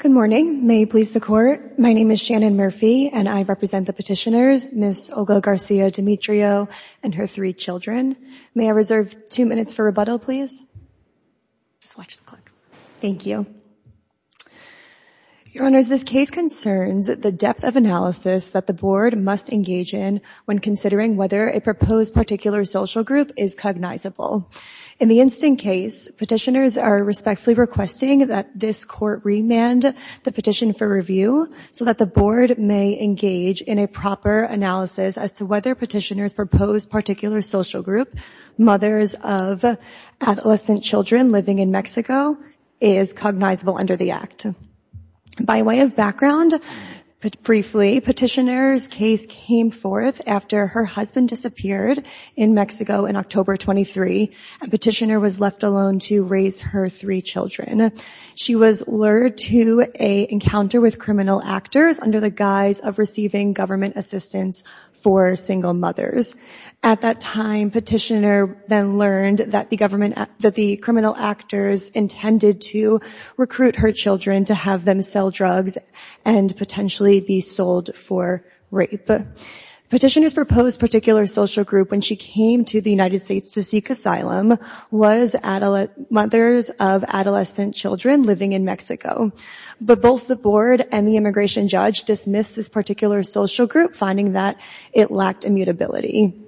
Good morning. May it please the court, my name is Shannon Murphy and I represent the petitioners Ms. Olga Garcia Demetrio and her three children. May I reserve two minutes for rebuttal please? Thank you. Your Honors, this case concerns the depth of analysis that the board must engage in when considering whether a proposed particular social group is cognizable. In the instant case, petitioners are respectfully requesting that this court remand the petition for review so that the board may engage in a proper analysis as to children living in Mexico is cognizable under the act. By way of background, briefly, petitioners case came forth after her husband disappeared in Mexico in October 23. A petitioner was left alone to raise her three children. She was lured to a encounter with criminal actors under the guise of receiving government assistance for single mothers. At that time, petitioner then learned that the criminal actors intended to recruit her children to have them sell drugs and potentially be sold for rape. Petitioners proposed particular social group when she came to the United States to seek asylum was mothers of adolescent children living in Mexico. But both the board and the immigration judge dismissed this particular social group finding that it lacked immutability.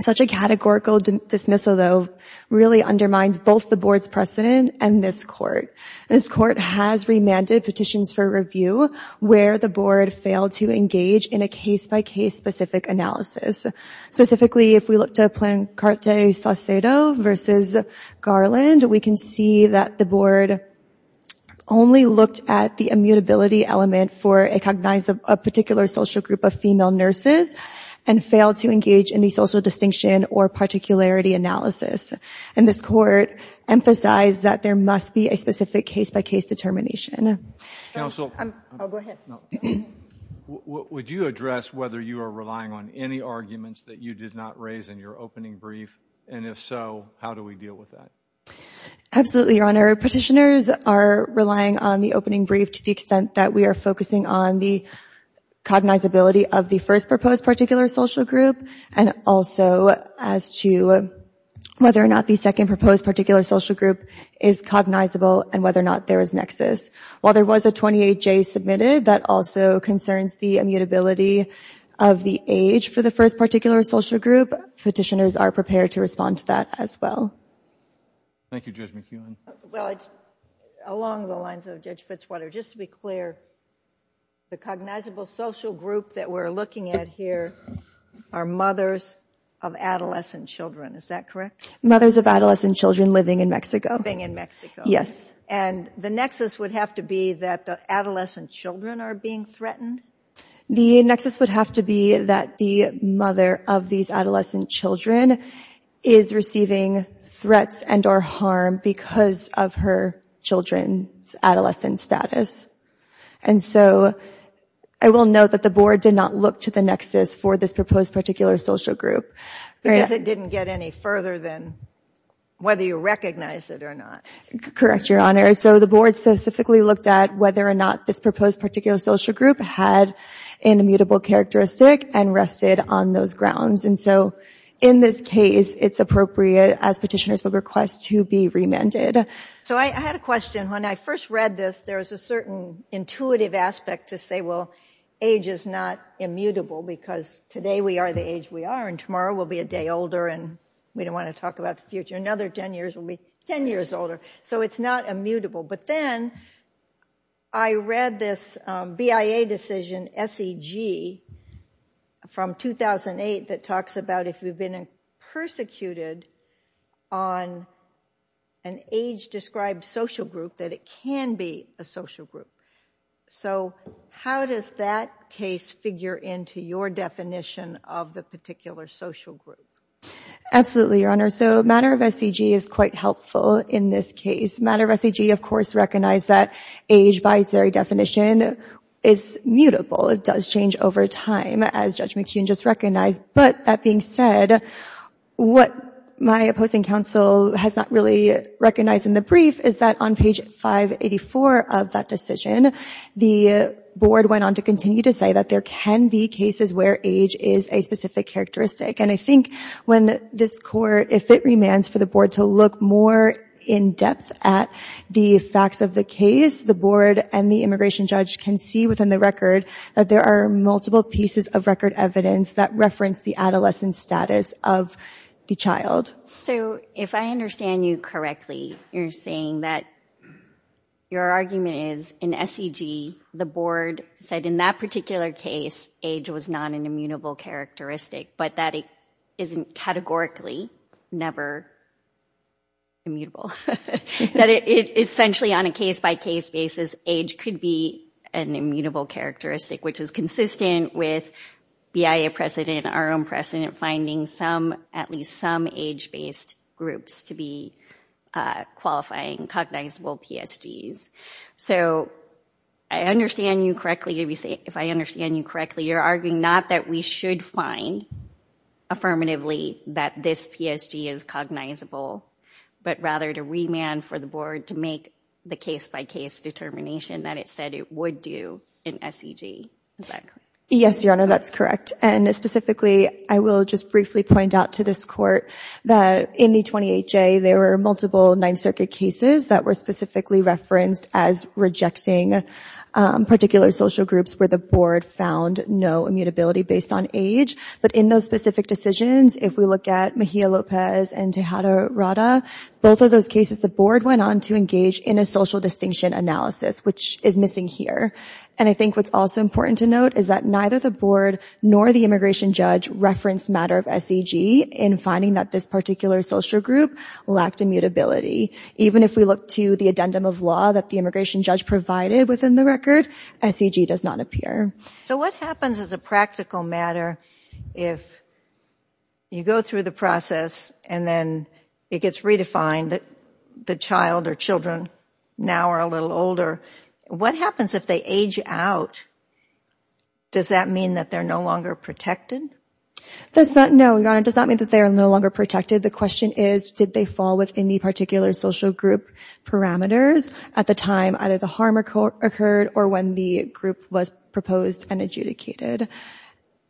Such a really undermines both the board's precedent and this court. This court has remanded petitions for review where the board failed to engage in a case by case specific analysis. Specifically, if we look to Plancarte Saucedo versus Garland, we can see that the board only looked at the immutability element for a cognize of a particular social group of female nurses and failed to engage in the social distinction or particularity analysis. And this court emphasized that there must be a specific case by case determination. Counsel, would you address whether you are relying on any arguments that you did not raise in your opening brief? And if so, how do we deal with that? Absolutely, Your Honor. Petitioners are relying on the opening brief to the extent that we are focusing on the cognizability of the first proposed particular social group and also as to whether or not the second proposed particular social group is cognizable and whether or not there is nexus. While there was a 28-J submitted, that also concerns the immutability of the age for the first particular social group. Petitioners are prepared to respond to that as well. Thank you, Judge McEwen. Well, along the lines of Judge Fitzwater, just to be clear, the cognizable social group that we are looking at here are mothers of adolescent children. Is that correct? Mothers of adolescent children living in Mexico. Living in Mexico. Yes. And the nexus would have to be that the adolescent children are being threatened? The nexus would have to be that the mother of these adolescent children is receiving threats and or harm because of her children's adolescent status. And so I will note that the Board did not look to the nexus for this proposed particular social group. Because it didn't get any further than whether you recognize it or not. Correct, Your Honor. So the Board specifically looked at whether or not this proposed particular social group had an immutable characteristic and rested on those grounds. And so in this case, it's appropriate, as petitioners would request, to be remanded. So I had a question. When I first read this, there was a certain intuitive aspect to say, well, age is not immutable because today we are the age we are and tomorrow we'll be a day older and we don't want to talk about the future. Another 10 years, we'll be 10 years older. So it's not immutable. But then I read this BIA decision, SEG, from 2008 that talks about if you've been persecuted on an age described social group, that it can be a social group. So how does that case figure into your definition of the particular social group? Absolutely, Your Honor. So matter of SEG is quite helpful in this case. Matter of SEG, of course, recognized that age, by its very definition, is mutable. It does change over time, as Judge McKeon just recognized. But that being said, what my opposing counsel has not really recognized in the brief is that on page 584 of that decision, the Board went on to continue to say that there can be cases where age is a specific characteristic. And I think when this Court, if it remains for the Board to look more in depth at the facts of the case, the Board and the immigration judge can see within the record that there are multiple pieces of record evidence that reference the adolescent status of the child. So if I understand you correctly, you're saying that your argument is in SEG, the Board said in that particular case, age was not an immutable characteristic, but that it isn't categorically never immutable, that it essentially, on a case-by-case basis, age could be an immutable characteristic, which is consistent with BIA precedent, our own precedent, finding some, at least some, age-based groups to be qualifying cognizable PSGs. So I understand you correctly, if I understand you correctly, you're arguing not that we should find, affirmatively, that this PSG is cognizable, but rather to remand for the Board to make the case-by-case determination that it said it would do in SEG, is that correct? Yes, Your Honor, that's correct. And specifically, I will just briefly point out to this Court that in the 28J, there were multiple Ninth Circuit cases that were specifically referenced as rejecting particular social groups where the Board found no immutability based on age, but in those specific decisions, if we look at Mejia Lopez and Tejada Rada, both of those cases, the Board went on to engage in a social distinction analysis, which is missing here, and I think what's also important to note is that neither the Board nor the immigration judge referenced matter of SEG in finding that this particular social group lacked immutability. Even if we look to the addendum of law that the immigration judge provided within the record, SEG does not appear. So what happens as a practical matter if you go through the process and then it gets redefined, the child or children now are a little older, what happens if they age out? Does that mean that they're no longer protected? No, Your Honor, it does not mean that they are no longer protected. The question is, did they fall within the particular social group parameters at the time either the harm occurred or when the group was proposed and adjudicated?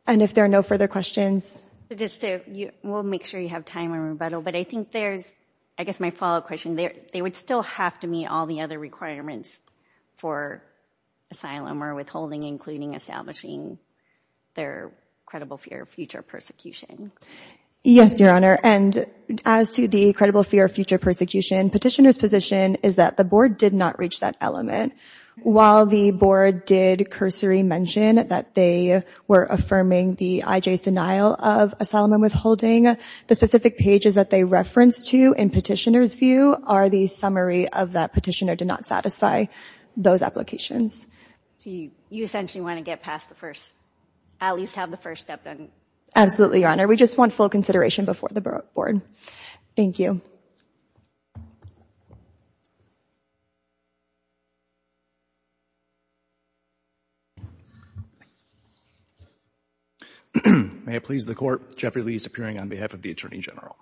And if there are no further questions... Just to, we'll make sure you have time in rebuttal, but I think there's, I guess my follow-up question, they would still have to meet all the other requirements for asylum or withholding, including establishing their credible fear of future persecution. Yes, Your Honor, and as to the credible fear of future persecution, Petitioner's position is that the Board did not reach that element. While the Board did cursory mention that they were affirming the IJ's denial of asylum and withholding, the specific pages that they reference to in Petitioner's view are the summary of that Petitioner did not satisfy those applications. So you essentially want to get past the first, at least have the first step done. Absolutely, Your Honor, we just want full consideration before the Board. Thank you. May it please the Court, Jeffrey Lee is appearing on behalf of the Attorney General.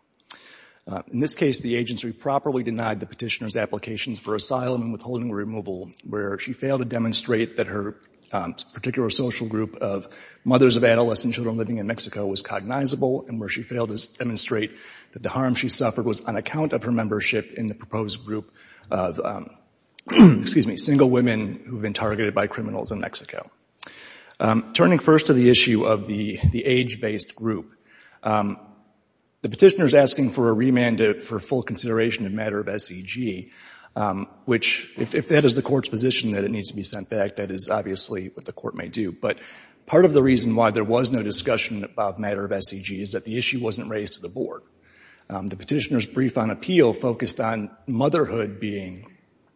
In this case, the agency properly denied the Petitioner's applications for asylum and withholding or removal where she failed to demonstrate that her particular social group of mothers of adolescent children living in Mexico was cognizable and where she failed to demonstrate that the harm she suffered was on account of her membership in the proposed group of, excuse me, single women who have been targeted by criminals in Mexico. Turning first to the issue of the age-based group, the Petitioner is asking for a remand for full consideration in matter of SEG, which if that is the Court's position that it needs to be sent back, that is obviously what the Court may do. But part of the reason why there was no discussion about matter of SEG is that the issue wasn't raised to the Board. The Petitioner's brief on appeal focused on motherhood being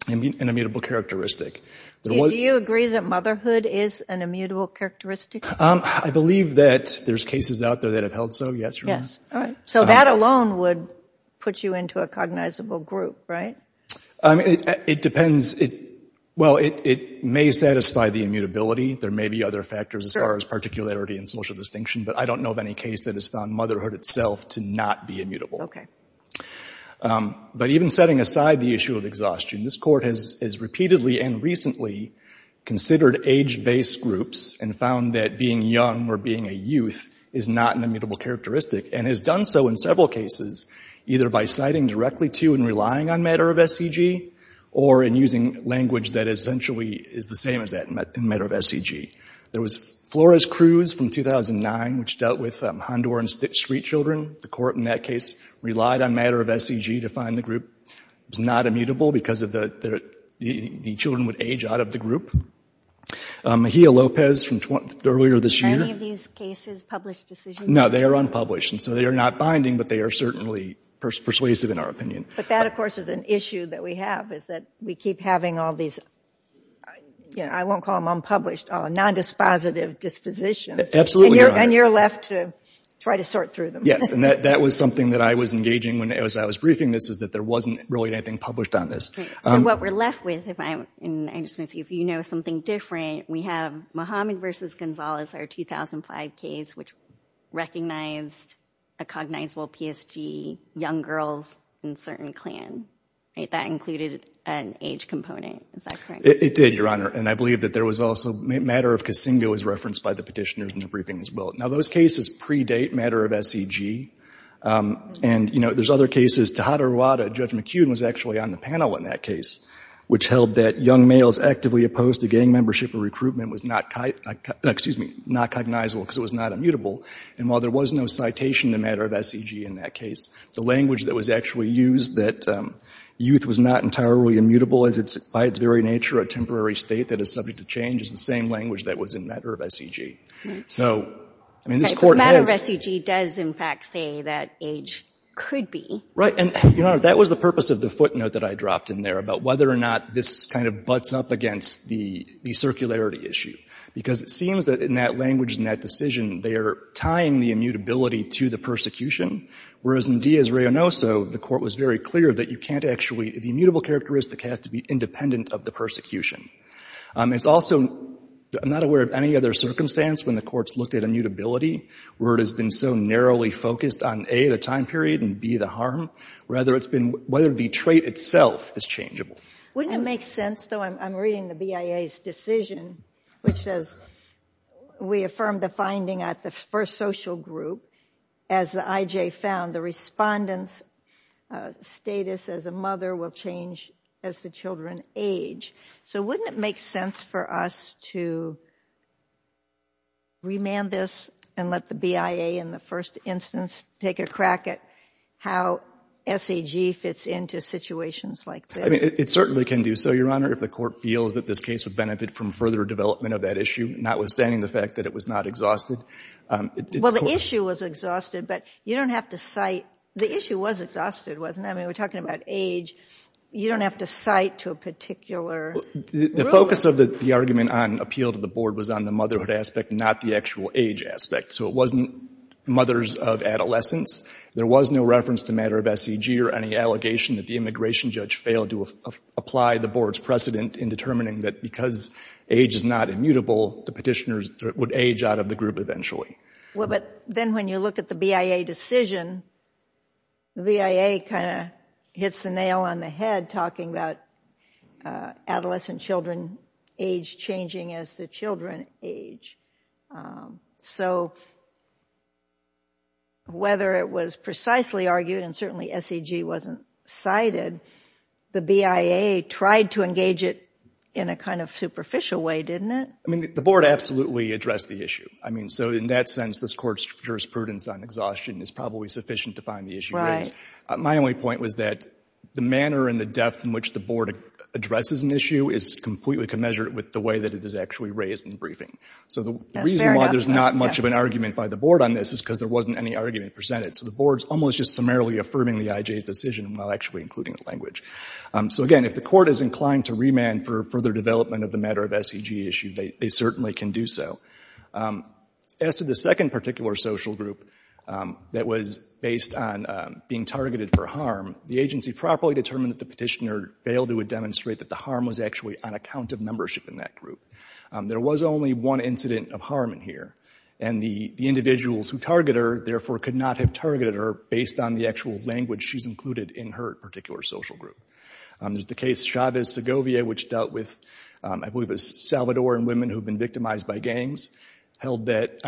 an immutable characteristic. Do you agree that motherhood is an immutable characteristic? I believe that there's cases out there that have held so, yes, Your Honor. So that alone would put you into a cognizable group, right? It depends. Well, it may satisfy the immutability. There may be other factors as far as particularity and social distinction. But I don't know of any case that has found motherhood itself to not be immutable. But even setting aside the issue of exhaustion, this Court has repeatedly and recently considered age-based groups and found that being young or being a youth is not an immutable characteristic and has done so in several cases, either by citing directly to and relying on matter of SEG or in using language that essentially is the same as that in matter of SEG. There was Flores-Cruz from 2009, which dealt with Honduran street children. The Court in that case relied on matter of SEG to find the group. It was not immutable because the children would age out of the group. Mejia-Lopez from earlier this year. Are any of these cases published decisions? No, they are unpublished. And so they are not binding, but they are certainly persuasive in our opinion. But that, of course, is an issue that we have is that we keep having all these, I won't call them unpublished. Nondispositive dispositions. Absolutely. And you're left to try to sort through them. Yes. And that was something that I was engaging when I was briefing this is that there wasn't really anything published on this. So what we're left with, if you know something different, we have Muhammad versus Gonzales, our 2005 case, which recognized a cognizable PSG, young girls in certain clan. That included an age component. Is that correct? It did, Your Honor. And I believe that there was also matter of Kasinga was referenced by the petitioners in the briefing as well. Now, those cases predate matter of SEG. And, you know, there's other cases. Tejada Rwada, Judge McEwen, was actually on the panel in that case, which held that young males actively opposed to gang membership and recruitment was not cognizable because it was not immutable. And while there was no citation in the matter of SEG in that case, the language that was actually used that youth was not entirely immutable by its very nature, a temporary state that is subject to change, is the same language that was in matter of SEG. So, I mean, this Court has — But matter of SEG does, in fact, say that age could be. Right. And, Your Honor, that was the purpose of the footnote that I dropped in there about whether or not this kind of butts up against the circularity issue. Because it seems that in that language, in that decision, they are tying the immutability to the persecution. Whereas in Diaz-Reyonoso, the Court was very clear that you can't actually — the immutable characteristic has to be independent of the persecution. It's also — I'm not aware of any other circumstance when the Court's looked at immutability, where it has been so narrowly focused on, A, the time period, and B, the harm. Rather, it's been whether the trait itself is changeable. Wouldn't it make sense, though — I'm reading the BIA's decision, which says, We affirmed the finding at the first social group. As the IJ found, the respondent's status as a mother will change as the children age. So wouldn't it make sense for us to remand this and let the BIA, in the first instance, take a crack at how SEG fits into situations like this? I mean, it certainly can do so, Your Honor, if the Court feels that this case would benefit from further development of that issue, notwithstanding the fact that it was not exhausted. Well, the issue was exhausted, but you don't have to cite — the issue was exhausted, wasn't it? I mean, we're talking about age. You don't have to cite to a particular ruling. The focus of the argument on appeal to the Board was on the motherhood aspect, not the actual age aspect. So it wasn't mothers of adolescents. There was no reference to matter of SEG or any allegation that the immigration judge failed to apply the Board's precedent in determining that because age is not immutable, the petitioners would age out of the group eventually. Well, but then when you look at the BIA decision, the BIA kind of hits the nail on the head talking about adolescent children age changing as the children age. So whether it was precisely argued, and certainly SEG wasn't cited, the BIA tried to engage it in a kind of superficial way, didn't it? I mean, the Board absolutely addressed the issue. I mean, so in that sense, this Court's jurisprudence on exhaustion is probably sufficient to find the issue raised. My only point was that the manner and the depth in which the Board addresses an issue is completely commensurate with the way that it is actually raised in the briefing. So the reason why there's not much of an argument by the Board on this is because there wasn't any argument presented. So the Board's almost just summarily affirming the IJ's decision while actually including the language. So again, if the Court is inclined to remand for further development of the matter of SEG issue, they certainly can do so. As to the second particular social group that was based on being targeted for harm, the agency properly determined that the petitioner failed to demonstrate that the harm was actually on account of membership in that group. There was only one incident of harm in here, and the individuals who targeted her therefore could not have targeted her based on the actual language she's included in her particular social group. There's the case Chavez-Segovia, which dealt with, I believe it was Salvadoran women who had been victimized by gangs, held that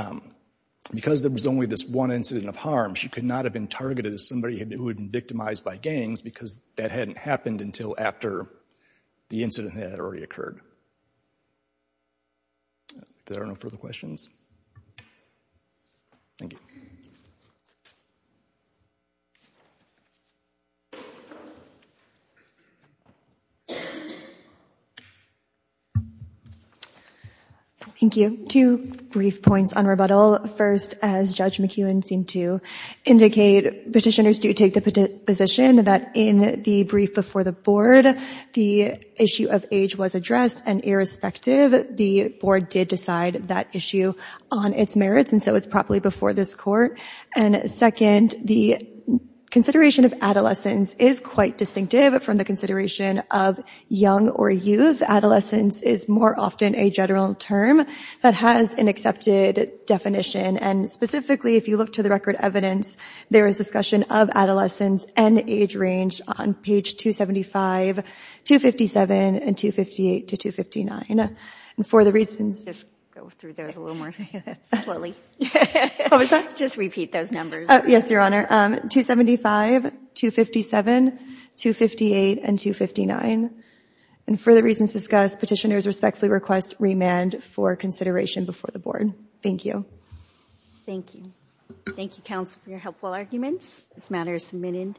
because there was only this one incident of harm, she could not have been targeted as somebody who had been victimized by gangs because that hadn't happened until after the incident had already occurred. If there are no further questions, thank you. Thank you. Two brief points on rebuttal. First, as Judge McEwen seemed to indicate, petitioners do take the position that in the brief before the Board, the issue of age was addressed, and irrespective, the Board did decide that issue on its merits, and so it's properly before this Court. And second, the consideration of adolescence is quite distinctive from the consideration of young or youth. Adolescence is more often a general term that has an accepted definition, and specifically, if you look to the record evidence, there is discussion of adolescence and age range on page 275, 257, and 258 to 259. And for the reasons... Just repeat those numbers. Yes, Your Honor. 275, 257, 258, and 259. And for the reasons discussed, petitioners respectfully request remand for consideration before the Board. Thank you. Thank you. Thank you, counsel, for your helpful arguments. This matter is submitted.